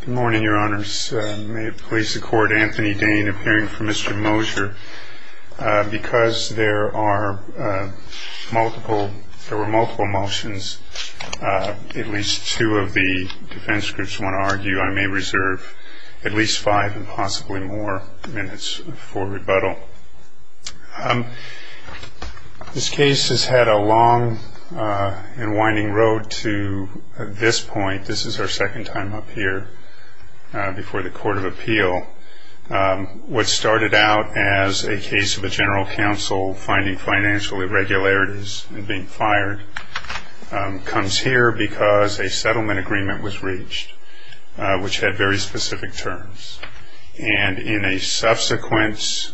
Good morning, your honors. May it please the court, Anthony Dane, appearing for Mr. Moser. Because there were multiple motions, at least two of the defense groups want to argue, I may reserve at least five and possibly more minutes for rebuttal. This case has had a long and winding road to this point. This is our second time up here before the Court of Appeal. What started out as a case of a general counsel finding financial irregularities and being fired comes here because a settlement agreement was reached, which had very specific terms. And in a subsequent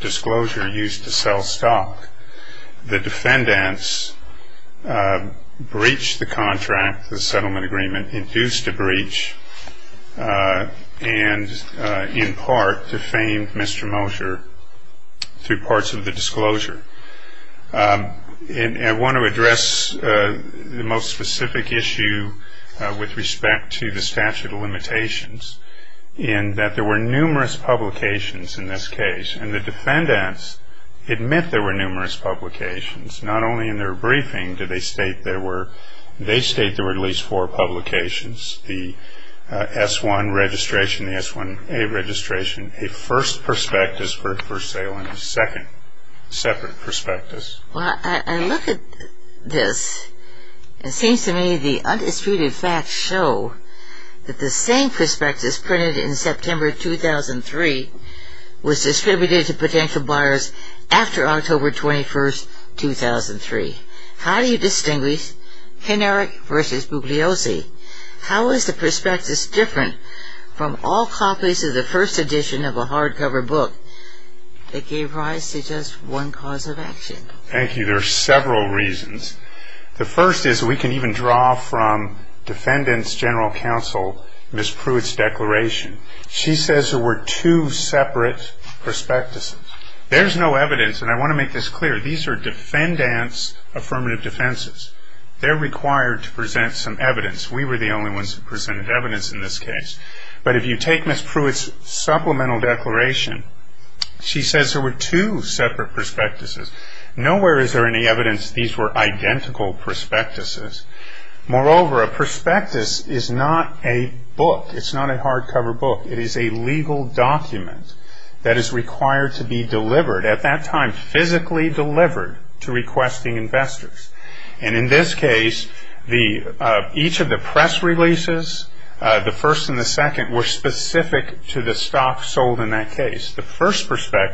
disclosure used to sell stock, the defendants breached the contract, the settlement agreement induced a breach, and in part defamed Mr. Moser through parts of the disclosure. I want to address the most specific issue with respect to the statute of limitations in that there were numerous publications in this case, and the defendants admit there were numerous publications. Not only in their briefing did they state there were at least four publications, the S-1 registration, the S-1A registration, a first prospectus for sale, and a second separate prospectus. Well, I look at this, and it seems to me the undisputed facts show that the same prospectus printed in September 2003 was distributed to potential buyers after October 21, 2003. How do you distinguish kineric versus bubliose? How is the prospectus different from all copies of the first edition of a hardcover book that gave rise to just one cause of action? Thank you. There are several reasons. The first is we can even draw from defendants general counsel Ms. Pruitt's declaration. She says there were two separate prospectuses. There's no evidence, and I want to make this clear. These are defendants' affirmative defenses. They're required to present some evidence. We were the only ones who presented evidence in this case. But if you take Ms. Pruitt's supplemental declaration, she says there were two separate prospectuses. Nowhere is there any evidence these were identical prospectuses. Moreover, a prospectus is not a book. It's not a hardcover book. It is a legal document that is required to be delivered at that time, physically delivered to requesting investors. And in this case, each of the press releases, the first and the second, were specific to the stock sold in that case. The first press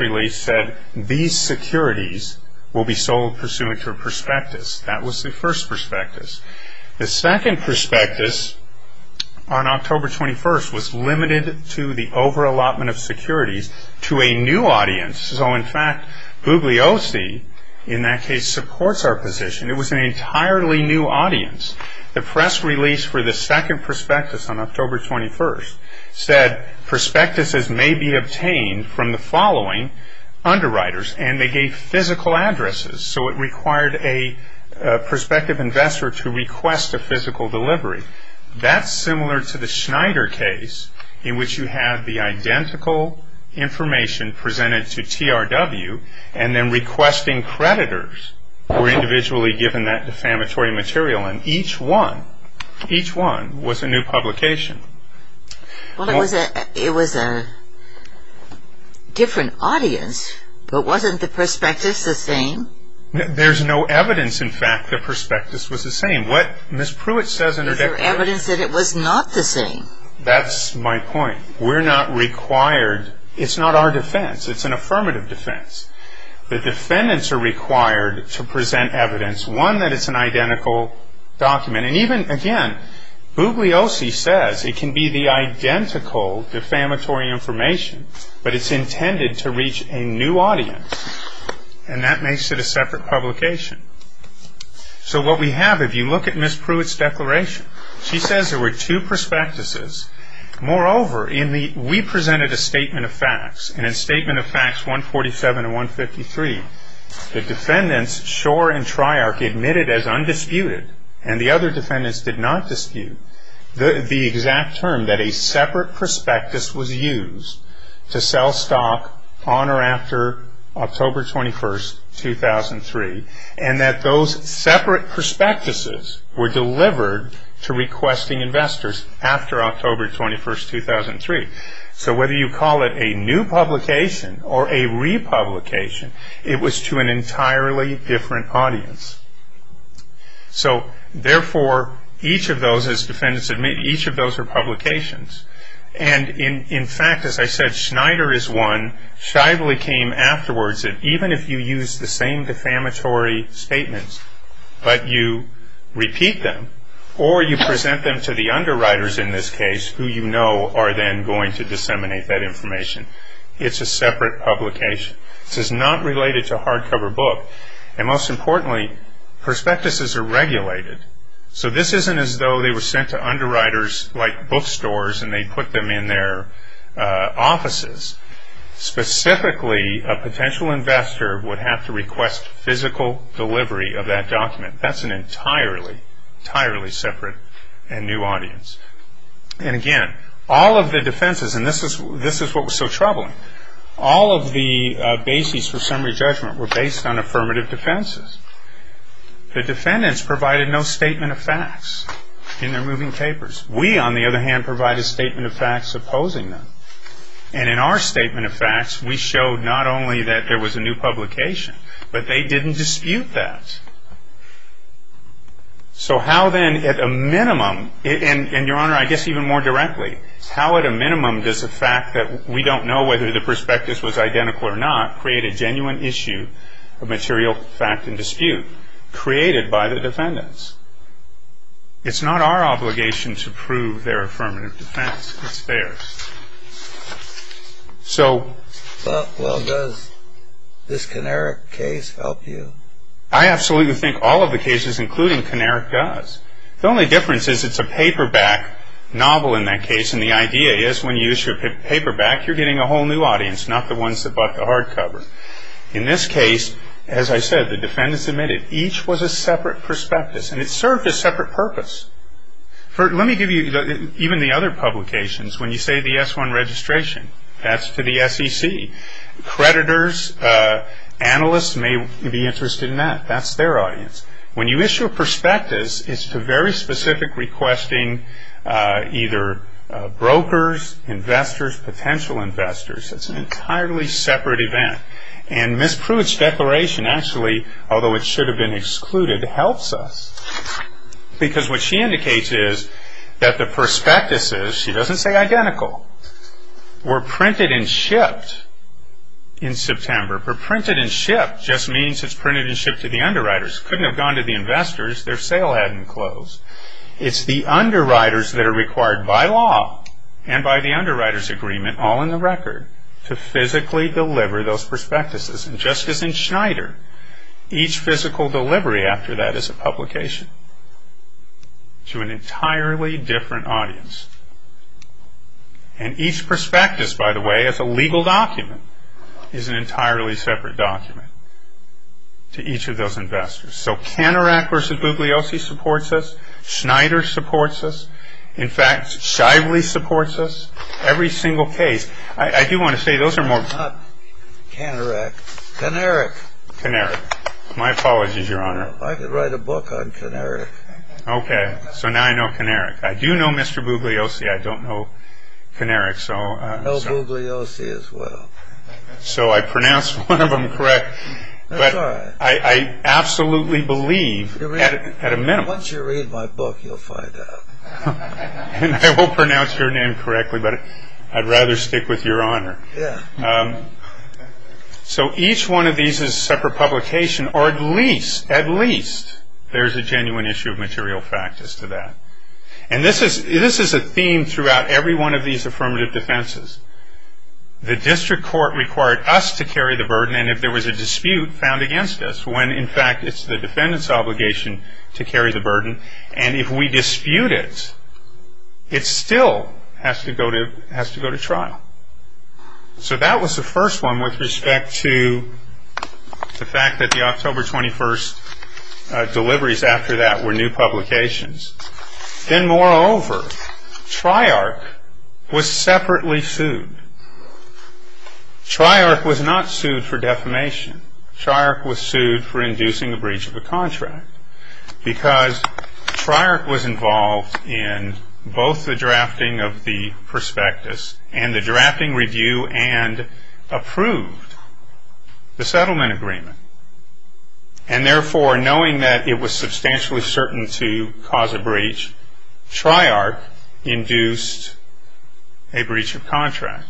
release said these securities will be sold pursuant to a prospectus. That was the first prospectus. The second prospectus on October 21st was limited to the over allotment of securities to a new audience. So, in fact, Bugliosi in that case supports our position. It was an entirely new audience. The press release for the second prospectus on October 21st said prospectuses may be obtained from the following underwriters, and they gave physical addresses. So it required a prospective investor to request a physical delivery. That's similar to the Schneider case in which you have the identical information presented to TRW and then requesting creditors were individually given that defamatory material. And each one, each one was a new publication. Well, it was a different audience, but wasn't the prospectus the same? There's no evidence, in fact, the prospectus was the same. What Ms. Pruitt says in her declaration... Is there evidence that it was not the same? That's my point. We're not required. It's not our defense. It's an affirmative defense. The defendants are required to present evidence, one, that it's an identical document. And even, again, Bugliosi says it can be the identical defamatory information, but it's intended to reach a new audience, and that makes it a separate publication. So what we have, if you look at Ms. Pruitt's declaration, she says there were two prospectuses. Moreover, we presented a statement of facts, and in Statement of Facts 147 and 153, the defendants, Schor and Treyarch, admitted as undisputed, and the other defendants did not dispute, the exact term that a separate prospectus was used to sell stock on or after October 21, 2003, and that those separate prospectuses were delivered to requesting investors after October 21, 2003. So whether you call it a new publication or a republication, it was to an entirely different audience. So, therefore, each of those, as defendants admit, each of those are publications. And, in fact, as I said, Schneider is one. Shively came afterwards that even if you use the same defamatory statements, but you repeat them or you present them to the underwriters, in this case, who you know are then going to disseminate that information, it's a separate publication. This is not related to a hardcover book, and, most importantly, prospectuses are regulated. So this isn't as though they were sent to underwriters like bookstores and they put them in their offices. Specifically, a potential investor would have to request physical delivery of that document. That's an entirely, entirely separate and new audience. And, again, all of the defenses, and this is what was so troubling, all of the bases for summary judgment were based on affirmative defenses. The defendants provided no statement of facts in their moving papers. We, on the other hand, provided a statement of facts opposing them. And, in our statement of facts, we showed not only that there was a new publication, but they didn't dispute that. So how, then, at a minimum, and, Your Honor, I guess even more directly, how, at a minimum, does the fact that we don't know whether the prospectus was identical or not create a genuine issue of material fact and dispute created by the defendants? It's not our obligation to prove their affirmative defense. It's theirs. So... Well, does this Kinnerick case help you? I absolutely think all of the cases, including Kinnerick, does. The only difference is it's a paperback novel in that case, and the idea is when you issue a paperback, you're getting a whole new audience, not the ones that bought the hardcover. In this case, as I said, the defendants admitted each was a separate prospectus, and it served a separate purpose. Let me give you even the other publications. When you say the S-1 registration, that's to the SEC. Creditors, analysts may be interested in that. That's their audience. When you issue a prospectus, it's to very specific requesting either brokers, investors, potential investors. It's an entirely separate event. And Ms. Pruitt's declaration actually, although it should have been excluded, helps us. Because what she indicates is that the prospectuses, she doesn't say identical, were printed and shipped in September. But printed and shipped just means it's printed and shipped to the underwriters. It couldn't have gone to the investors. Their sale hadn't closed. It's the underwriters that are required by law and by the underwriters' agreement, all in the record, to physically deliver those prospectuses. And just as in Schneider, each physical delivery after that is a publication to an entirely different audience. And each prospectus, by the way, as a legal document, is an entirely separate document to each of those investors. So Canorac versus Bugliosi supports us. Schneider supports us. In fact, Shively supports us. Every single case. I do want to say those are more... It's not Canorac. Caneric. Caneric. My apologies, Your Honor. I could write a book on Caneric. Okay. So now I know Caneric. I do know Mr. Bugliosi. I don't know Caneric. I know Bugliosi as well. So I pronounced one of them correct. That's all right. But I absolutely believe at a minimum. Once you read my book, you'll find out. And I will pronounce your name correctly, but I'd rather stick with Your Honor. So each one of these is a separate publication, or at least there's a genuine issue of material fact as to that. And this is a theme throughout every one of these affirmative defenses. The district court required us to carry the burden, and if there was a dispute, found against us, and if we dispute it, it still has to go to trial. So that was the first one with respect to the fact that the October 21st deliveries after that were new publications. Then, moreover, TRIARC was separately sued. TRIARC was not sued for defamation. TRIARC was sued for inducing a breach of a contract because TRIARC was involved in both the drafting of the prospectus and the drafting review and approved the settlement agreement. And therefore, knowing that it was substantially certain to cause a breach, TRIARC induced a breach of contract.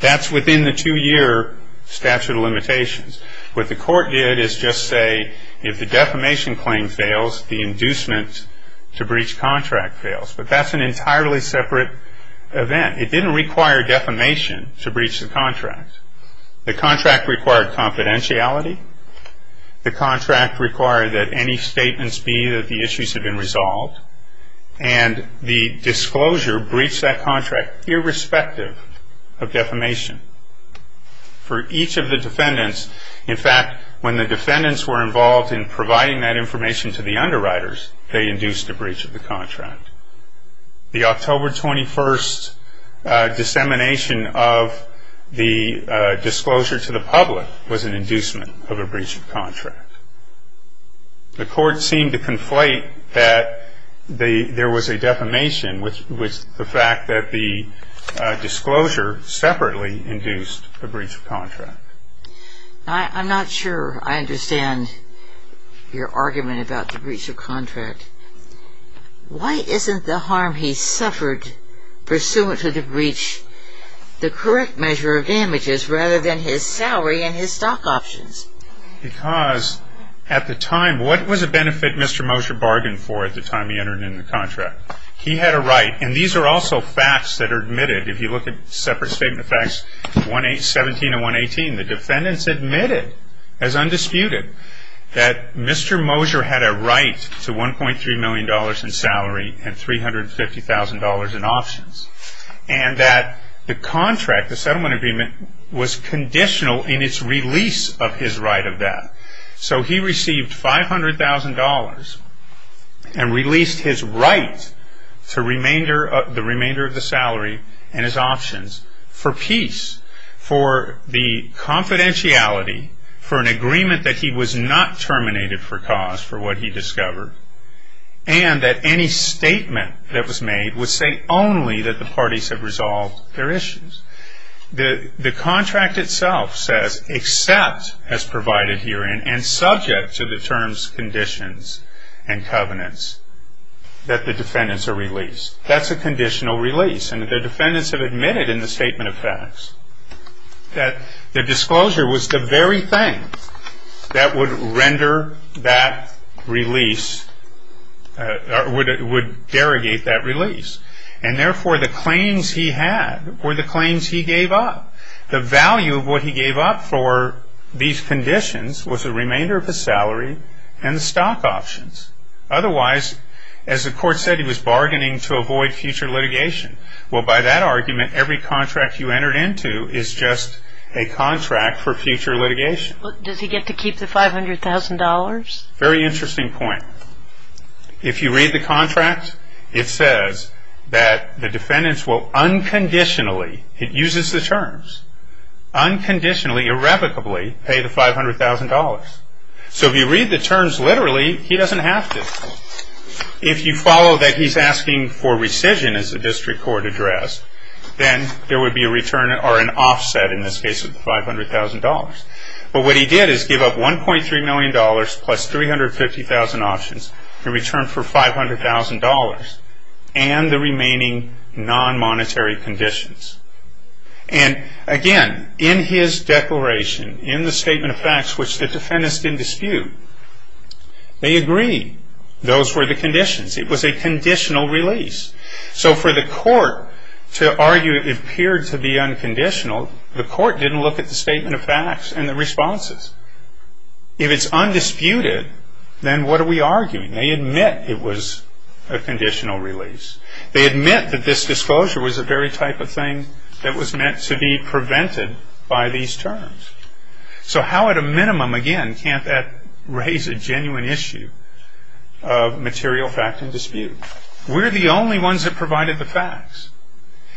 That's within the two-year statute of limitations. What the court did is just say if the defamation claim fails, the inducement to breach contract fails. But that's an entirely separate event. It didn't require defamation to breach the contract. The contract required confidentiality. The contract required that any statements be that the issues had been resolved. And the disclosure breached that contract irrespective of defamation. For each of the defendants, in fact, when the defendants were involved in providing that information to the underwriters, they induced a breach of the contract. The October 21st dissemination of the disclosure to the public was an inducement of a breach of contract. The court seemed to conflate that there was a defamation with the fact that the disclosure separately induced a breach of contract. I'm not sure I understand your argument about the breach of contract. Why isn't the harm he suffered pursuant to the breach the correct measure of damages rather than his salary and his stock options? Because at the time, what was a benefit Mr. Mosher bargained for at the time he entered into the contract? He had a right. And these are also facts that are admitted. If you look at separate statement of facts, 17 and 118, the defendants admitted as undisputed that Mr. Mosher had a right to $1.3 million in salary and $350,000 in options. And that the contract, the settlement agreement, was conditional in its release of his right of that. So he received $500,000 and released his right to the remainder of the salary and his options for peace, for the confidentiality, for an agreement that he was not terminated for cause for what he discovered, and that any statement that was made would say only that the parties had resolved their issues. The contract itself says, except as provided herein and subject to the terms, conditions, and covenants, that the defendants are released. That's a conditional release. And the defendants have admitted in the statement of facts that the disclosure was the very thing that would render that release, would derogate that release. And therefore, the claims he had were the claims he gave up. The value of what he gave up for these conditions was the remainder of his salary and the stock options. Otherwise, as the court said, he was bargaining to avoid future litigation. Well, by that argument, every contract you entered into is just a contract for future litigation. But does he get to keep the $500,000? Very interesting point. If you read the contract, it says that the defendants will unconditionally, it uses the terms, unconditionally, irrevocably, pay the $500,000. So if you read the terms literally, he doesn't have to. If you follow that he's asking for rescission, as the district court addressed, then there would be a return or an offset, in this case, of the $500,000. But what he did is give up $1.3 million plus 350,000 options in return for $500,000 and the remaining non-monetary conditions. And again, in his declaration, in the statement of facts, which the defendants didn't dispute, they agreed. Those were the conditions. It was a conditional release. So for the court to argue it appeared to be unconditional, the court didn't look at the statement of facts and the responses. If it's undisputed, then what are we arguing? They admit it was a conditional release. They admit that this disclosure was the very type of thing that was meant to be prevented by these terms. So how at a minimum, again, can't that raise a genuine issue of material fact and dispute? We're the only ones that provided the facts.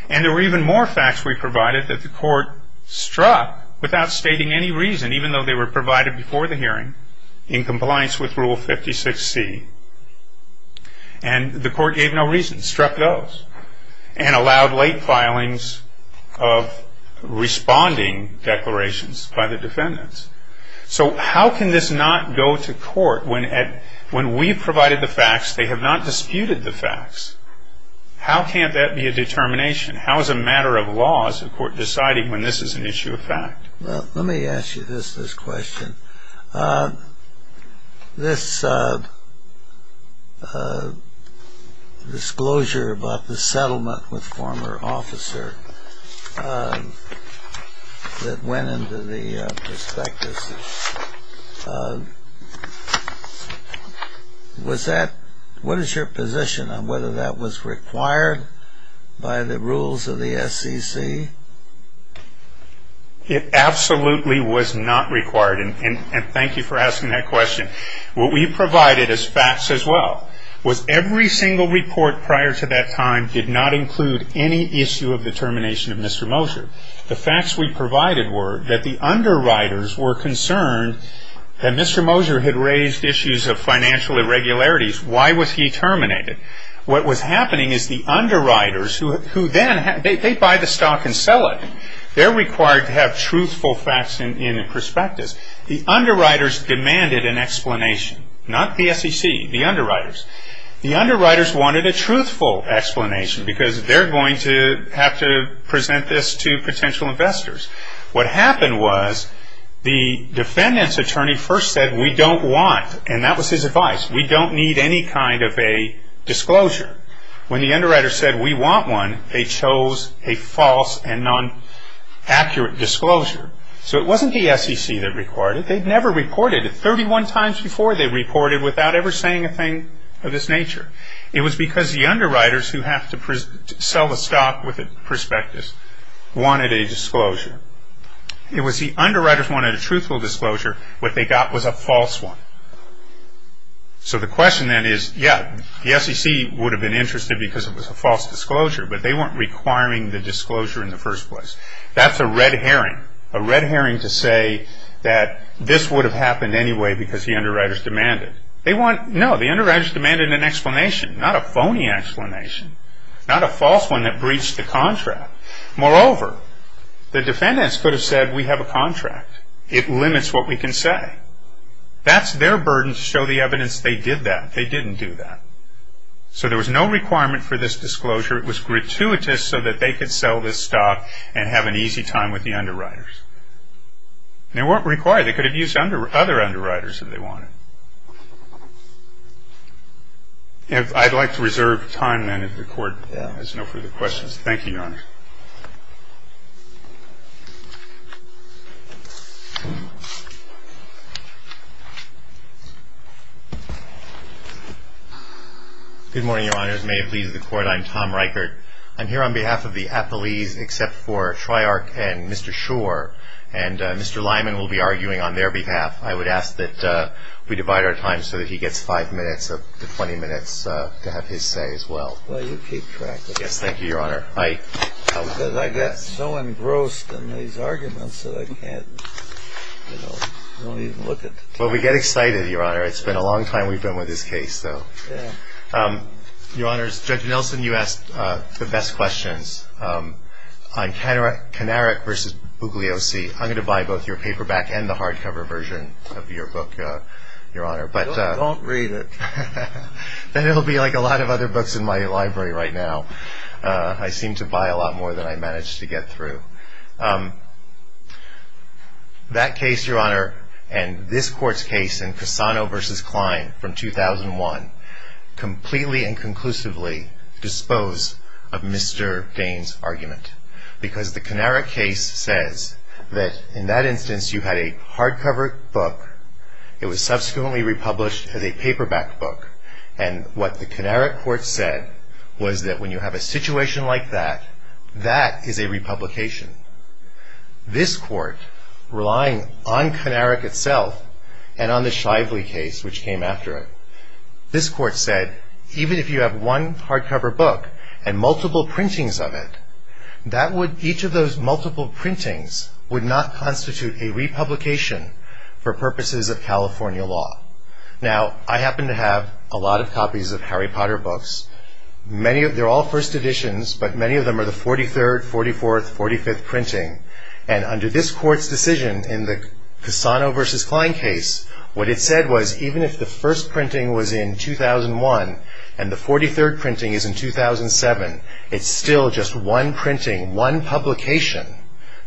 And there were even more facts we provided that the court struck without stating any reason, even though they were provided before the hearing, in compliance with Rule 56C. And the court gave no reason, struck those, and allowed late filings of responding declarations by the defendants. So how can this not go to court when we've provided the facts, they have not disputed the facts? How can't that be a determination? How is a matter of laws a court deciding when this is an issue of fact? Well, let me ask you this question. This disclosure about the settlement with former officer that went into the prospectus, what is your position on whether that was required by the rules of the SEC? It absolutely was not required. And thank you for asking that question. What we provided as facts as well was every single report prior to that time did not include any issue of determination of Mr. Moser. The facts we provided were that the underwriters were concerned that Mr. Moser had raised issues of financial irregularities. Why was he terminated? What was happening is the underwriters who then, they buy the stock and sell it. They're required to have truthful facts in the prospectus. The underwriters demanded an explanation, not the SEC, the underwriters. The underwriters wanted a truthful explanation because they're going to have to present this to potential investors. What happened was the defendant's attorney first said we don't want, and that was his advice, we don't need any kind of a disclosure. When the underwriters said we want one, they chose a false and non-accurate disclosure. So it wasn't the SEC that required it. They'd never reported it. Thirty-one times before they reported without ever saying a thing of this nature. It was because the underwriters who have to sell the stock with the prospectus wanted a disclosure. It was the underwriters who wanted a truthful disclosure. What they got was a false one. So the question then is, yeah, the SEC would have been interested because it was a false disclosure, but they weren't requiring the disclosure in the first place. That's a red herring. A red herring to say that this would have happened anyway because the underwriters demanded. No, the underwriters demanded an explanation, not a phony explanation, not a false one that breached the contract. Moreover, the defendants could have said we have a contract. It limits what we can say. That's their burden to show the evidence they did that. They didn't do that. So there was no requirement for this disclosure. It was gratuitous so that they could sell this stock and have an easy time with the underwriters. They weren't required. They could have used other underwriters if they wanted. I'd like to reserve time then if the Court has no further questions. Thank you, Your Honor. Good morning, Your Honors. May it please the Court. I'm Tom Reichert. I'm here on behalf of the appellees except for Treyarch and Mr. Schor. And Mr. Lyman will be arguing on their behalf. I would ask that we divide our time so that he gets five minutes to 20 minutes to have his say as well. Well, you keep track of that. Yes, thank you, Your Honor. Because I get so engrossed in these arguments that I can't, you know, I don't even look at the time. Well, we get excited, Your Honor. It's been a long time we've been with this case, though. Yeah. Your Honors, Judge Nelson, you asked the best questions. On Kanarek v. Bugliosi, I'm going to buy both your paperback and the hardcover version of your book, Your Honor. Don't read it. Then it will be like a lot of other books in my library right now. I seem to buy a lot more than I manage to get through. That case, Your Honor, and this Court's case in Cassano v. Klein from 2001, completely and conclusively dispose of Mr. Dane's argument. Because the Kanarek case says that in that instance you had a hardcover book. It was subsequently republished as a paperback book. And what the Kanarek Court said was that when you have a situation like that, that is a republication. This Court, relying on Kanarek itself and on the Shively case, which came after it, this Court said even if you have one hardcover book and multiple printings of it, each of those multiple printings would not constitute a republication for purposes of California law. Now, I happen to have a lot of copies of Harry Potter books. They're all first editions, but many of them are the 43rd, 44th, 45th printing. And under this Court's decision in the Cassano v. Klein case, what it said was even if the first printing was in 2001 and the 43rd printing is in 2007, it's still just one printing, one publication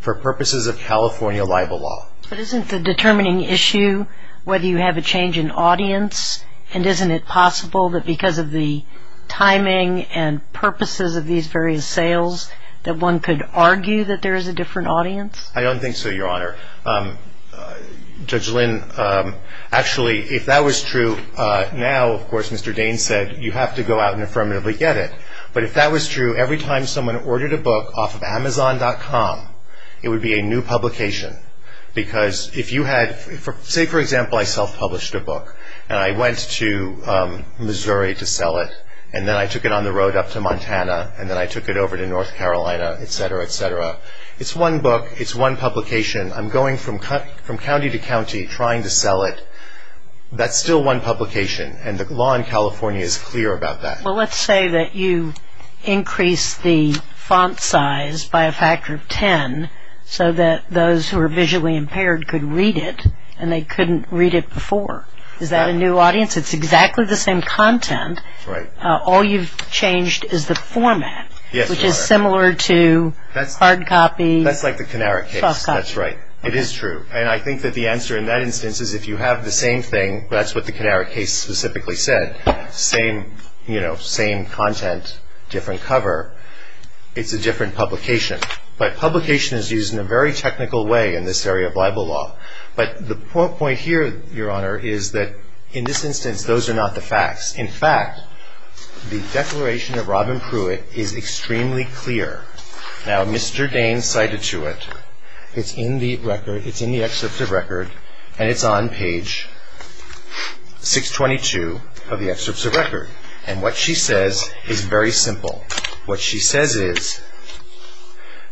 for purposes of California libel law. But isn't the determining issue whether you have a change in audience? And isn't it possible that because of the timing and purposes of these various sales that one could argue that there is a different audience? I don't think so, Your Honor. Judge Lynn, actually, if that was true, now, of course, Mr. Dane said you have to go out and affirmatively get it. But if that was true, every time someone ordered a book off of Amazon.com, it would be a new publication because if you had, say, for example, I self-published a book and I went to Missouri to sell it, and then I took it on the road up to Montana, and then I took it over to North Carolina, et cetera, et cetera. It's one book. It's one publication. I'm going from county to county trying to sell it. That's still one publication, and the law in California is clear about that. Well, let's say that you increase the font size by a factor of ten so that those who are visually impaired could read it and they couldn't read it before. Is that a new audience? It's exactly the same content. Right. All you've changed is the format, which is similar to hard copy, soft copy. That's like the Kanarick case. That's right. It is true. And I think that the answer in that instance is if you have the same thing, that's what the Kanarick case specifically said, same content, different cover, it's a different publication. But publication is used in a very technical way in this area of Bible law. But the point here, Your Honor, is that in this instance, those are not the facts. In fact, the declaration of Robin Pruitt is extremely clear. Now, Mr. Dane cited to it. It's in the record. It's in the excerpt of record, and it's on page 622 of the excerpt of record. And what she says is very simple. What she says is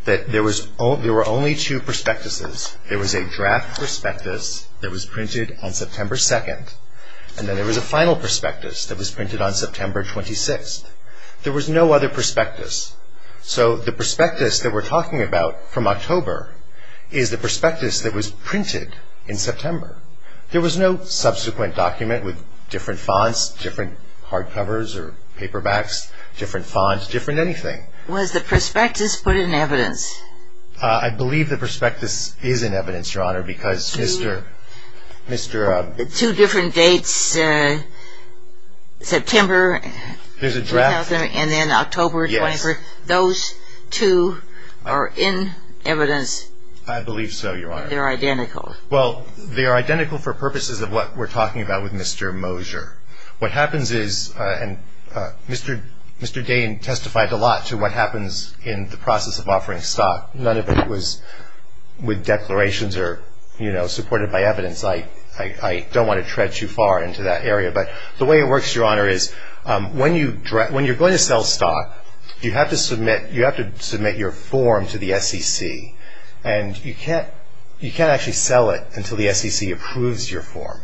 that there were only two prospectuses. There was a draft prospectus that was printed on September 2nd, and then there was a final prospectus that was printed on September 26th. There was no other prospectus. So the prospectus that we're talking about from October is the prospectus that was printed in September. There was no subsequent document with different fonts, different hardcovers or paperbacks, different fonts, different anything. Was the prospectus put in evidence? I believe the prospectus is in evidence, Your Honor, because Mr. Two different dates, September. There's a draft. And then October 23rd. Those two are in evidence. I believe so, Your Honor. They're identical. Well, they are identical for purposes of what we're talking about with Mr. Mosier. What happens is, and Mr. Dane testified a lot to what happens in the process of offering stock. None of it was with declarations or, you know, supported by evidence. I don't want to tread too far into that area. But the way it works, Your Honor, is when you're going to sell stock, you have to submit your form to the SEC. And you can't actually sell it until the SEC approves your form.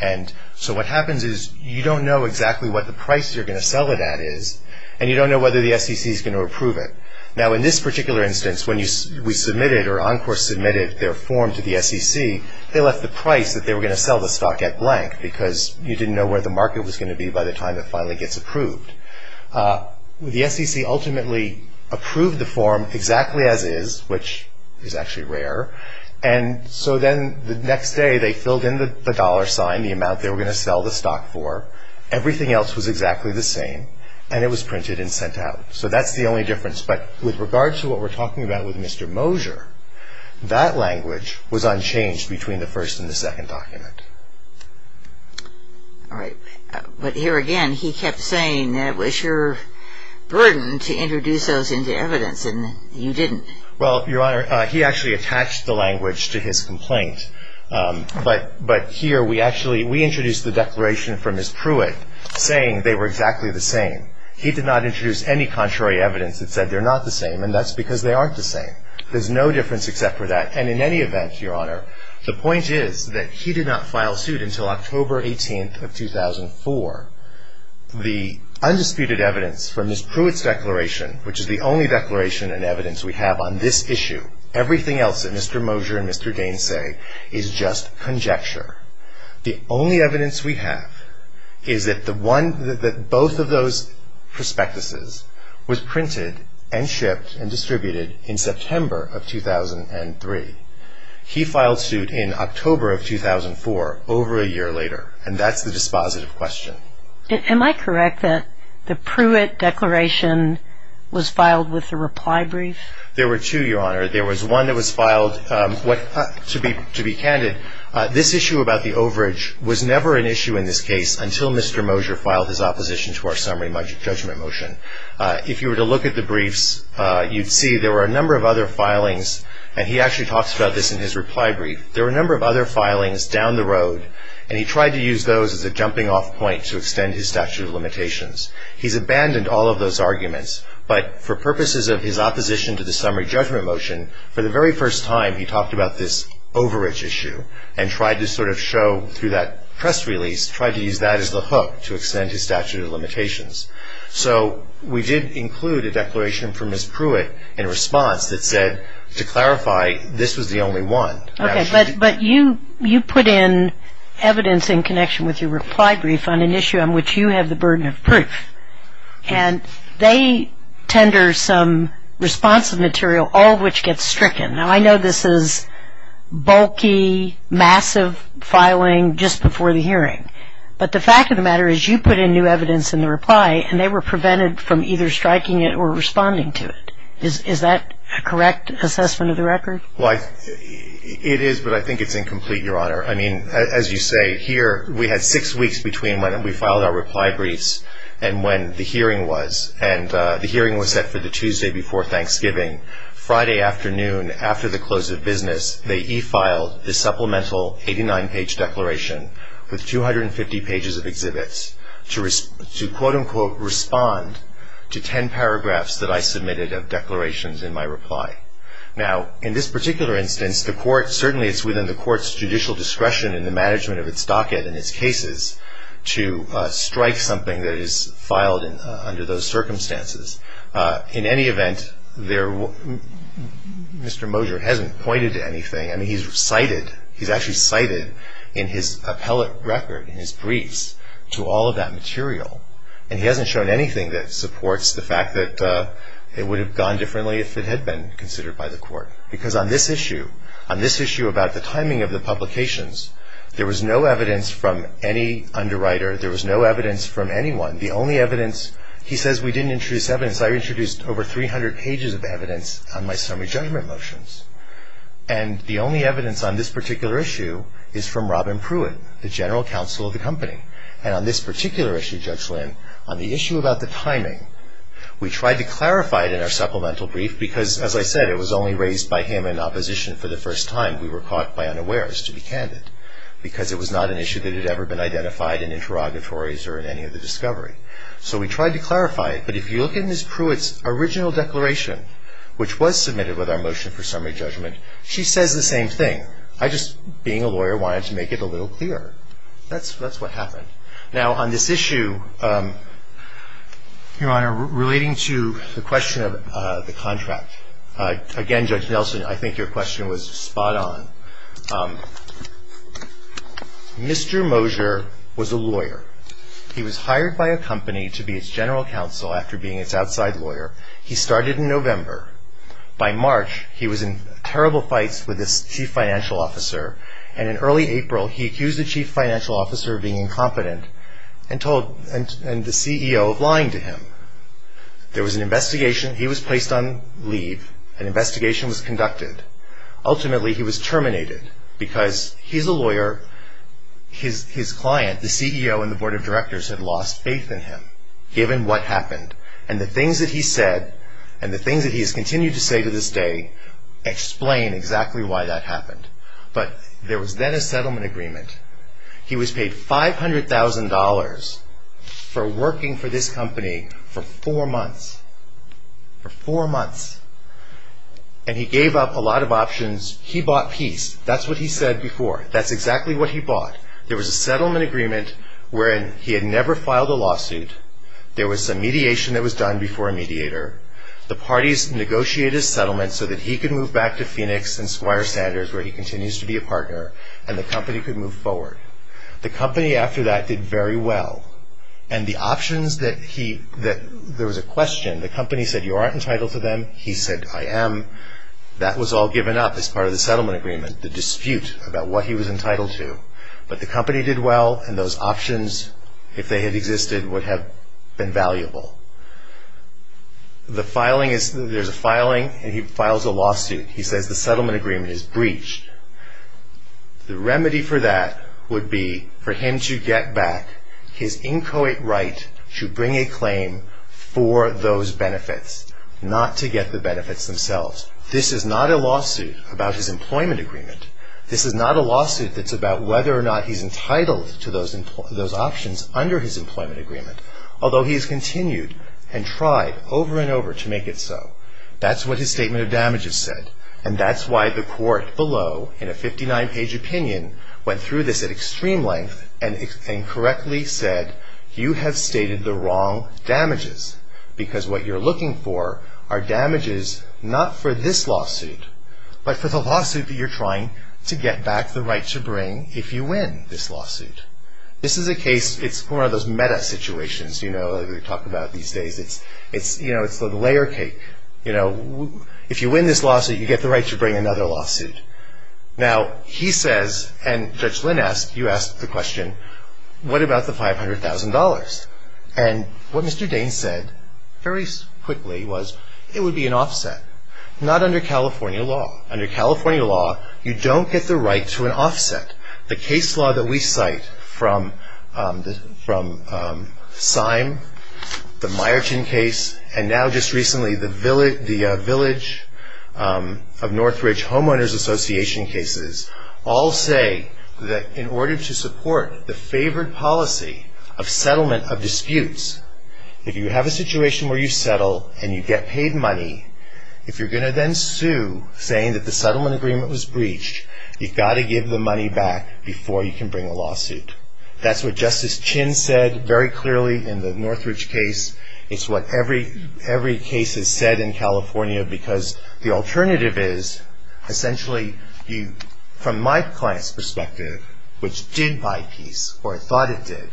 And so what happens is you don't know exactly what the price you're going to sell it at is, and you don't know whether the SEC is going to approve it. Now, in this particular instance, when we submitted or Encore submitted their form to the SEC, they left the price that they were going to sell the stock at blank because you didn't know where the market was going to be by the time it finally gets approved. The SEC ultimately approved the form exactly as is, which is actually rare. And so then the next day they filled in the dollar sign, the amount they were going to sell the stock for. Everything else was exactly the same. And it was printed and sent out. So that's the only difference. But with regards to what we're talking about with Mr. Mosher, that language was unchanged between the first and the second document. All right. But here again, he kept saying that it was your burden to introduce those into evidence, and you didn't. Well, Your Honor, he actually attached the language to his complaint. But here we actually introduced the declaration from Ms. Pruitt saying they were exactly the same. He did not introduce any contrary evidence that said they're not the same, and that's because they aren't the same. There's no difference except for that. And in any event, Your Honor, the point is that he did not file suit until October 18th of 2004. The undisputed evidence from Ms. Pruitt's declaration, which is the only declaration and evidence we have on this issue, everything else that Mr. Mosher and Mr. Gaines say is just conjecture. The only evidence we have is that both of those prospectuses was printed and shipped and distributed in September of 2003. He filed suit in October of 2004, over a year later, and that's the dispositive question. Am I correct that the Pruitt declaration was filed with a reply brief? There were two, Your Honor. There was one that was filed to be candid. This issue about the overage was never an issue in this case until Mr. Mosher filed his opposition to our summary judgment motion. If you were to look at the briefs, you'd see there were a number of other filings, and he actually talks about this in his reply brief. There were a number of other filings down the road, and he tried to use those as a jumping-off point to extend his statute of limitations. He's abandoned all of those arguments, but for purposes of his opposition to the summary judgment motion, for the very first time he talked about this overage issue and tried to sort of show through that press release, tried to use that as the hook to extend his statute of limitations. So we did include a declaration from Ms. Pruitt in response that said, to clarify, this was the only one. Okay, but you put in evidence in connection with your reply brief and they tender some responsive material, all of which gets stricken. Now, I know this is bulky, massive filing just before the hearing, but the fact of the matter is you put in new evidence in the reply and they were prevented from either striking it or responding to it. Is that a correct assessment of the record? It is, but I think it's incomplete, Your Honor. I mean, as you say, here we had six weeks between when we filed our reply briefs and when the hearing was, and the hearing was set for the Tuesday before Thanksgiving. Friday afternoon, after the close of business, they e-filed the supplemental 89-page declaration with 250 pages of exhibits to quote, unquote, respond to 10 paragraphs that I submitted of declarations in my reply. Now, in this particular instance, the court, certainly it's within the court's judicial discretion in the management of its docket and its cases to strike something that is filed under those circumstances. In any event, Mr. Moser hasn't pointed to anything. I mean, he's cited, he's actually cited in his appellate record, in his briefs, to all of that material, and he hasn't shown anything that supports the fact that it would have gone differently if it had been considered by the court, because on this issue, on this issue about the timing of the publications, there was no evidence from any underwriter. There was no evidence from anyone. The only evidence, he says we didn't introduce evidence. I introduced over 300 pages of evidence on my summary judgment motions, and the only evidence on this particular issue is from Robin Pruitt, the general counsel of the company, and on this particular issue, Judge Lynn, on the issue about the timing, we tried to clarify it in our supplemental brief because, as I said, it was only raised by him in opposition for the first time. We were caught by unawares, to be candid, because it was not an issue that had ever been identified in interrogatories or in any of the discovery. So we tried to clarify it, but if you look in Ms. Pruitt's original declaration, which was submitted with our motion for summary judgment, she says the same thing. I just, being a lawyer, wanted to make it a little clearer. That's what happened. Now, on this issue, Your Honor, relating to the question of the contract, again, Judge Nelson, I think your question was spot on. Mr. Moser was a lawyer. He was hired by a company to be its general counsel after being its outside lawyer. He started in November. By March, he was in terrible fights with his chief financial officer, and in early April, he accused the chief financial officer of being incompetent and the CEO of lying to him. There was an investigation. He was placed on leave. An investigation was conducted. Ultimately, he was terminated because he's a lawyer. His client, the CEO and the board of directors, had lost faith in him, given what happened, and the things that he said and the things that he has continued to say to this day explain exactly why that happened. But there was then a settlement agreement. He was paid $500,000 for working for this company for four months, for four months, and he gave up a lot of options. He bought peace. That's what he said before. That's exactly what he bought. There was a settlement agreement wherein he had never filed a lawsuit. There was some mediation that was done before a mediator. The parties negotiated a settlement so that he could move back to Phoenix and Squire Sanders, where he continues to be a partner, and the company could move forward. The company, after that, did very well. And the options that there was a question, the company said, you aren't entitled to them. He said, I am. That was all given up as part of the settlement agreement, the dispute about what he was entitled to. But the company did well, and those options, if they had existed, would have been valuable. There's a filing, and he files a lawsuit. He says the settlement agreement is breached. The remedy for that would be for him to get back his inchoate right to bring a claim for those benefits, not to get the benefits themselves. This is not a lawsuit about his employment agreement. This is not a lawsuit that's about whether or not he's entitled to those options under his employment agreement, although he's continued and tried over and over to make it so. That's what his statement of damages said. And that's why the court below, in a 59-page opinion, went through this at extreme length and correctly said, you have stated the wrong damages, because what you're looking for are damages not for this lawsuit, but for the lawsuit that you're trying to get back the right to bring if you win this lawsuit. This is a case, it's one of those meta situations, you know, that we talk about these days. It's, you know, it's the layer cake. You know, if you win this lawsuit, you get the right to bring another lawsuit. Now, he says, and Judge Lynn asked, you asked the question, what about the $500,000? And what Mr. Daines said very quickly was it would be an offset, not under California law. Under California law, you don't get the right to an offset. The case law that we cite from Syme, the Myerton case, and now just recently the Village of Northridge Homeowners Association cases, all say that in order to support the favored policy of settlement of disputes, if you have a situation where you settle and you get paid money, if you're going to then sue saying that the settlement agreement was breached, you've got to give the money back before you can bring a lawsuit. That's what Justice Chin said very clearly in the Northridge case. It's what every case has said in California, because the alternative is, essentially, from my client's perspective, which did buy peace, or thought it did,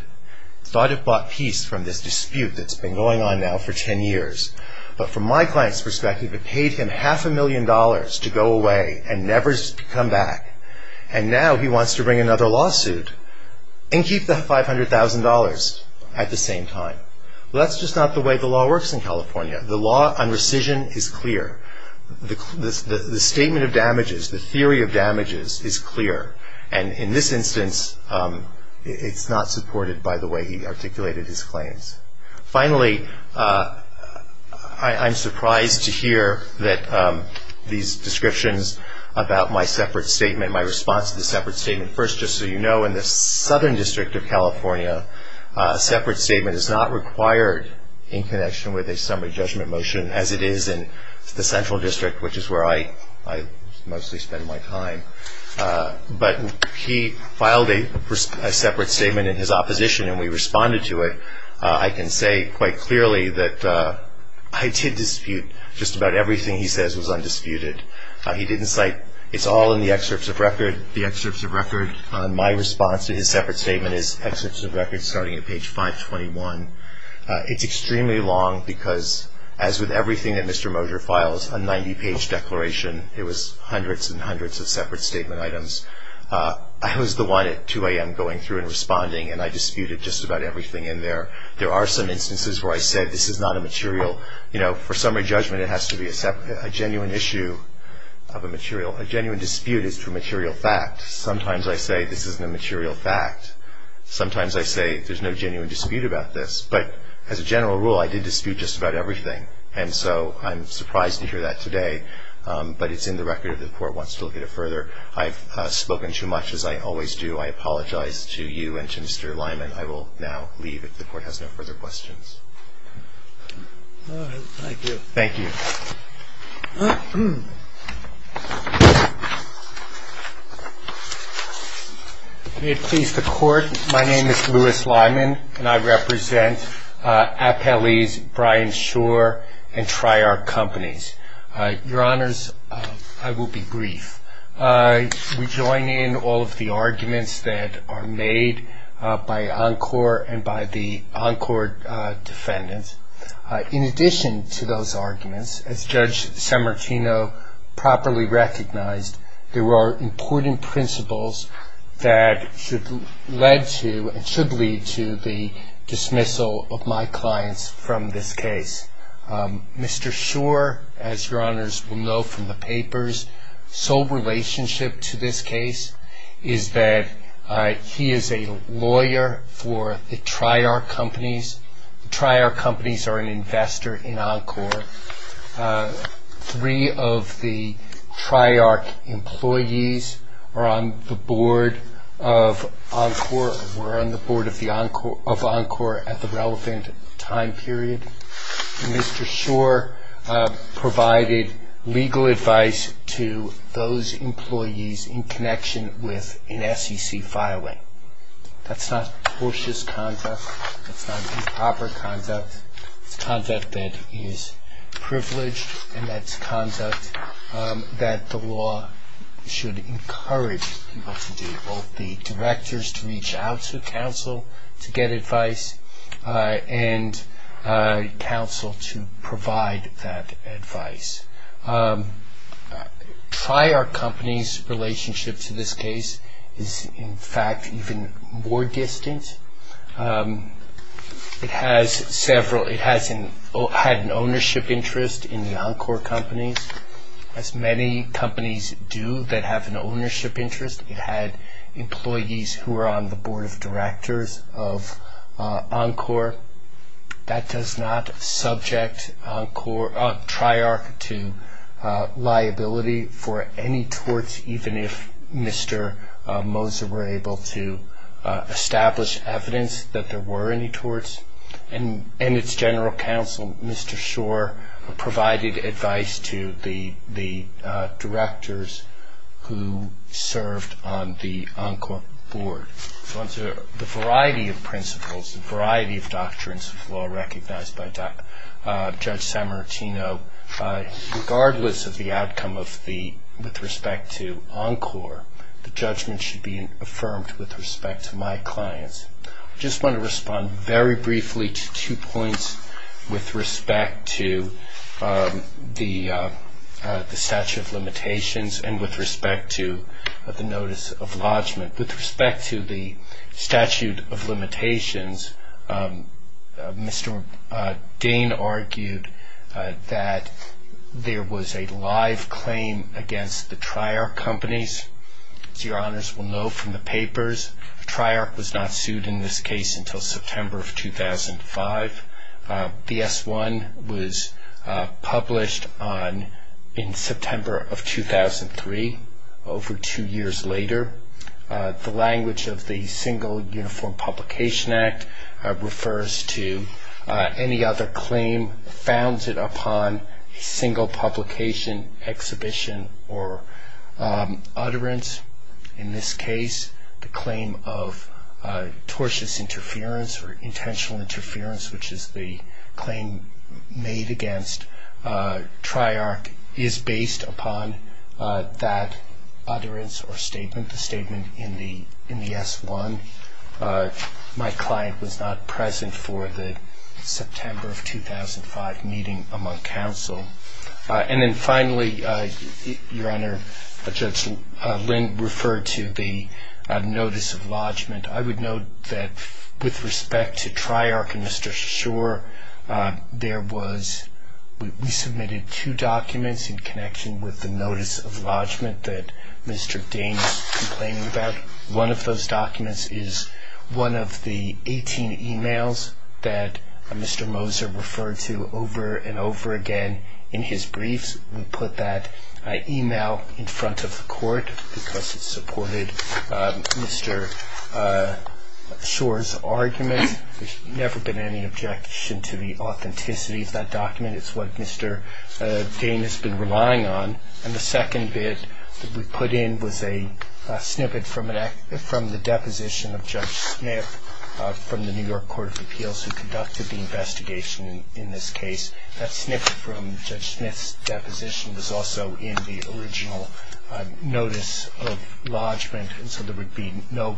thought it bought peace from this dispute that's been going on now for 10 years, but from my client's perspective, it paid him half a million dollars to go away and never come back, and now he wants to bring another lawsuit and keep the $500,000 at the same time. Well, that's just not the way the law works in California. The law on rescission is clear. The statement of damages, the theory of damages is clear, and in this instance, it's not supported by the way he articulated his claims. Finally, I'm surprised to hear that these descriptions about my separate statement, my response to the separate statement. First, just so you know, in the Southern District of California, a separate statement is not required in connection with a summary judgment motion, as it is in the Central District, which is where I mostly spend my time. But he filed a separate statement in his opposition, and we responded to it. I can say quite clearly that I did dispute just about everything he says was undisputed. He didn't cite, it's all in the excerpts of record, the excerpts of record. My response to his separate statement is excerpts of record starting at page 521. It's extremely long because, as with everything that Mr. Moser files, a 90-page declaration, it was hundreds and hundreds of separate statement items. I was the one at 2 a.m. going through and responding, and I disputed just about everything in there. There are some instances where I said this is not a material, you know, for summary judgment, it has to be a genuine issue of a material. A genuine dispute is to a material fact. Sometimes I say this isn't a material fact. Sometimes I say there's no genuine dispute about this. But as a general rule, I did dispute just about everything, and so I'm surprised to hear that today. But it's in the record if the Court wants to look at it further. I've spoken too much, as I always do. I apologize to you and to Mr. Lyman. I will now leave if the Court has no further questions. All right. Thank you. Thank you. May it please the Court, my name is Louis Lyman, and I represent Appellee's Bryan Shore and Triarc Companies. Your Honors, I will be brief. We join in all of the arguments that are made by Encore and by the Encore defendants. In addition to those arguments, as Judge Sammartino properly recognized, there are important principles that should lead to and should lead to the dismissal of my clients from this case. Mr. Shore, as Your Honors will know from the papers, sole relationship to this case is that he is a lawyer for the Triarc Companies. The Triarc Companies are an investor in Encore. Three of the Triarc employees were on the board of Encore at the relevant time period. Mr. Shore provided legal advice to those employees in connection with an SEC filing. That's not cautious conduct. That's not improper conduct. It's conduct that is privileged, and that's conduct that the law should encourage people to do, both the directors to reach out to counsel to get advice and counsel to provide that advice. Triarc Companies' relationship to this case is, in fact, even more distant. It has had an ownership interest in the Encore Companies, as many companies do that have an ownership interest. It had employees who were on the board of directors of Encore. That does not subject Triarc to liability for any torts, even if Mr. Moser were able to establish evidence that there were any torts. And its general counsel, Mr. Shore, provided advice to the directors who served on the Encore board. The variety of principles, the variety of doctrines of law recognized by Judge Sammartino, regardless of the outcome with respect to Encore, the judgment should be affirmed with respect to my clients. I just want to respond very briefly to two points with respect to the statute of limitations and with respect to the notice of lodgment. With respect to the statute of limitations, Mr. Dane argued that there was a live claim against the Triarc Companies. As your honors will know from the papers, Triarc was not sued in this case until September of 2005. The S-1 was published in September of 2003, over two years later. The language of the Single Uniform Publication Act refers to any other claim founded upon single publication, exhibition, or utterance. In this case, the claim of tortious interference or intentional interference, which is the claim made against Triarc, is based upon that utterance or statement, the statement in the S-1. My client was not present for the September of 2005 meeting among counsel. And then finally, your honor, Judge Lind referred to the notice of lodgment. I would note that with respect to Triarc and Mr. Schor, we submitted two documents in connection with the notice of lodgment that Mr. Dane is complaining about. One of those documents is one of the 18 emails that Mr. Moser referred to over and over again in his briefs. We put that email in front of the court because it supported Mr. Schor's argument. There's never been any objection to the authenticity of that document. It's what Mr. Dane has been relying on. And the second bit that we put in was a snippet from the deposition of Judge Smith from the New York Court of Appeals who conducted the investigation in this case. That snippet from Judge Smith's deposition was also in the original notice of lodgment, and so there would be no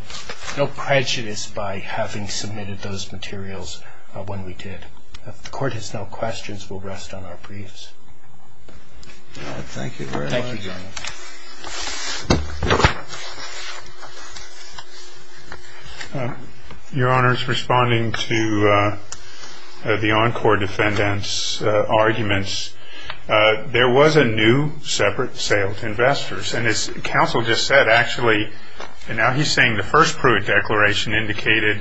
prejudice by having submitted those materials when we did. If the court has no questions, we'll rest on our briefs. Thank you very much. Thank you, Your Honor. Your Honor, responding to the Encore defendant's arguments, there was a new separate sale to investors. And as counsel just said, actually, and now he's saying the first Pruitt declaration indicated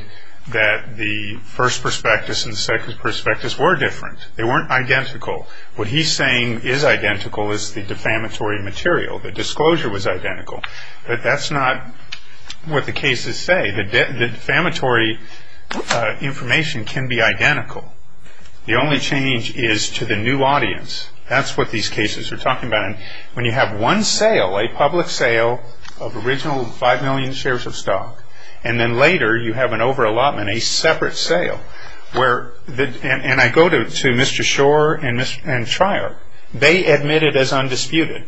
that the first prospectus and the second prospectus were different. They weren't identical. What he's saying is identical is the defamatory material. The disclosure was identical. But that's not what the cases say. The defamatory information can be identical. The only change is to the new audience. That's what these cases are talking about. And when you have one sale, a public sale of original 5 million shares of stock, and then later you have an over allotment, a separate sale, and I go to Mr. Schor and Treyarch, they admitted as undisputed,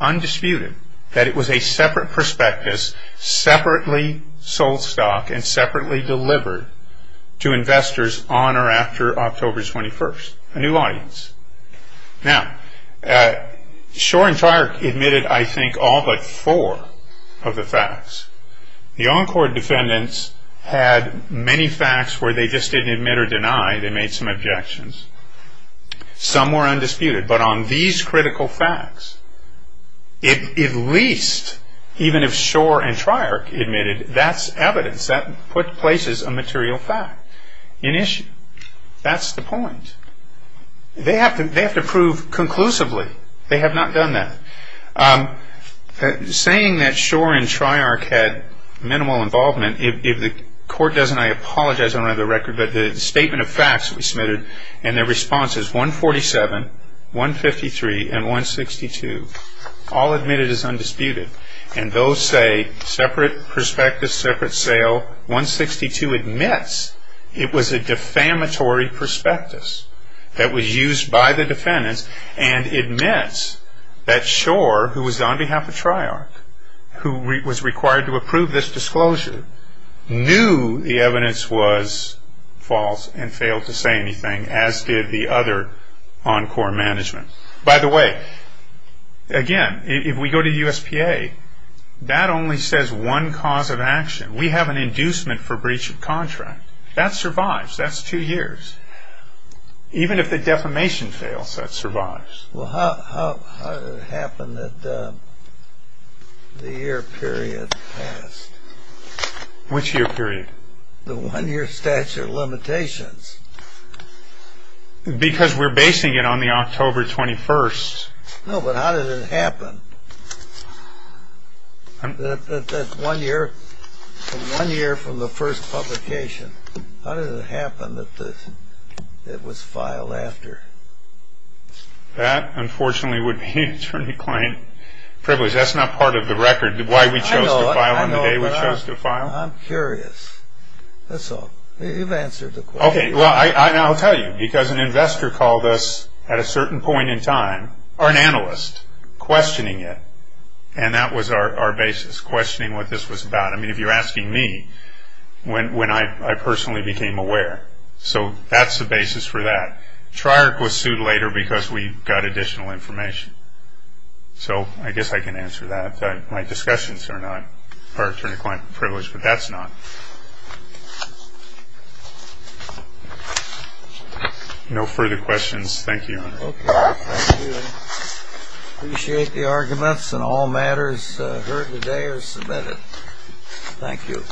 undisputed, that it was a separate prospectus, separately sold stock and separately delivered to investors on or after October 21st. A new audience. Now, Schor and Treyarch admitted, I think, all but four of the facts. The Encore defendants had many facts where they just didn't admit or deny. They made some objections. Some were undisputed. But on these critical facts, at least, even if Schor and Treyarch admitted, that's evidence. That places a material fact in issue. That's the point. They have to prove conclusively. They have not done that. Saying that Schor and Treyarch had minimal involvement, if the court doesn't, I apologize. I don't have the record. But the statement of facts that we submitted and their responses, 147, 153, and 162, all admitted as undisputed. And those say separate prospectus, separate sale. 162 admits it was a defamatory prospectus that was used by the defendants and admits that Schor, who was on behalf of Treyarch, who was required to approve this disclosure, knew the evidence was false and failed to say anything, as did the other Encore management. By the way, again, if we go to the USPA, that only says one cause of action. We have an inducement for breach of contract. That survives. That's two years. Even if the defamation fails, that survives. Well, how did it happen that the year period passed? Which year period? The one-year statute of limitations. Because we're basing it on the October 21st. No, but how did it happen? That one year from the first publication, how did it happen that it was filed after? That, unfortunately, would be an attorney-client privilege. That's not part of the record, why we chose to file on the day we chose to file. I'm curious. That's all. You've answered the question. Okay, well, I'll tell you, because an investor called us at a certain point in time, or an analyst, questioning it. And that was our basis, questioning what this was about. I mean, if you're asking me, when I personally became aware. So that's the basis for that. Triarch was sued later because we got additional information. So I guess I can answer that. My discussions are not part attorney-client privilege, but that's not. No further questions. Thank you, Your Honor. Okay, thank you. I appreciate the arguments, and all matters heard today are submitted. Thank you.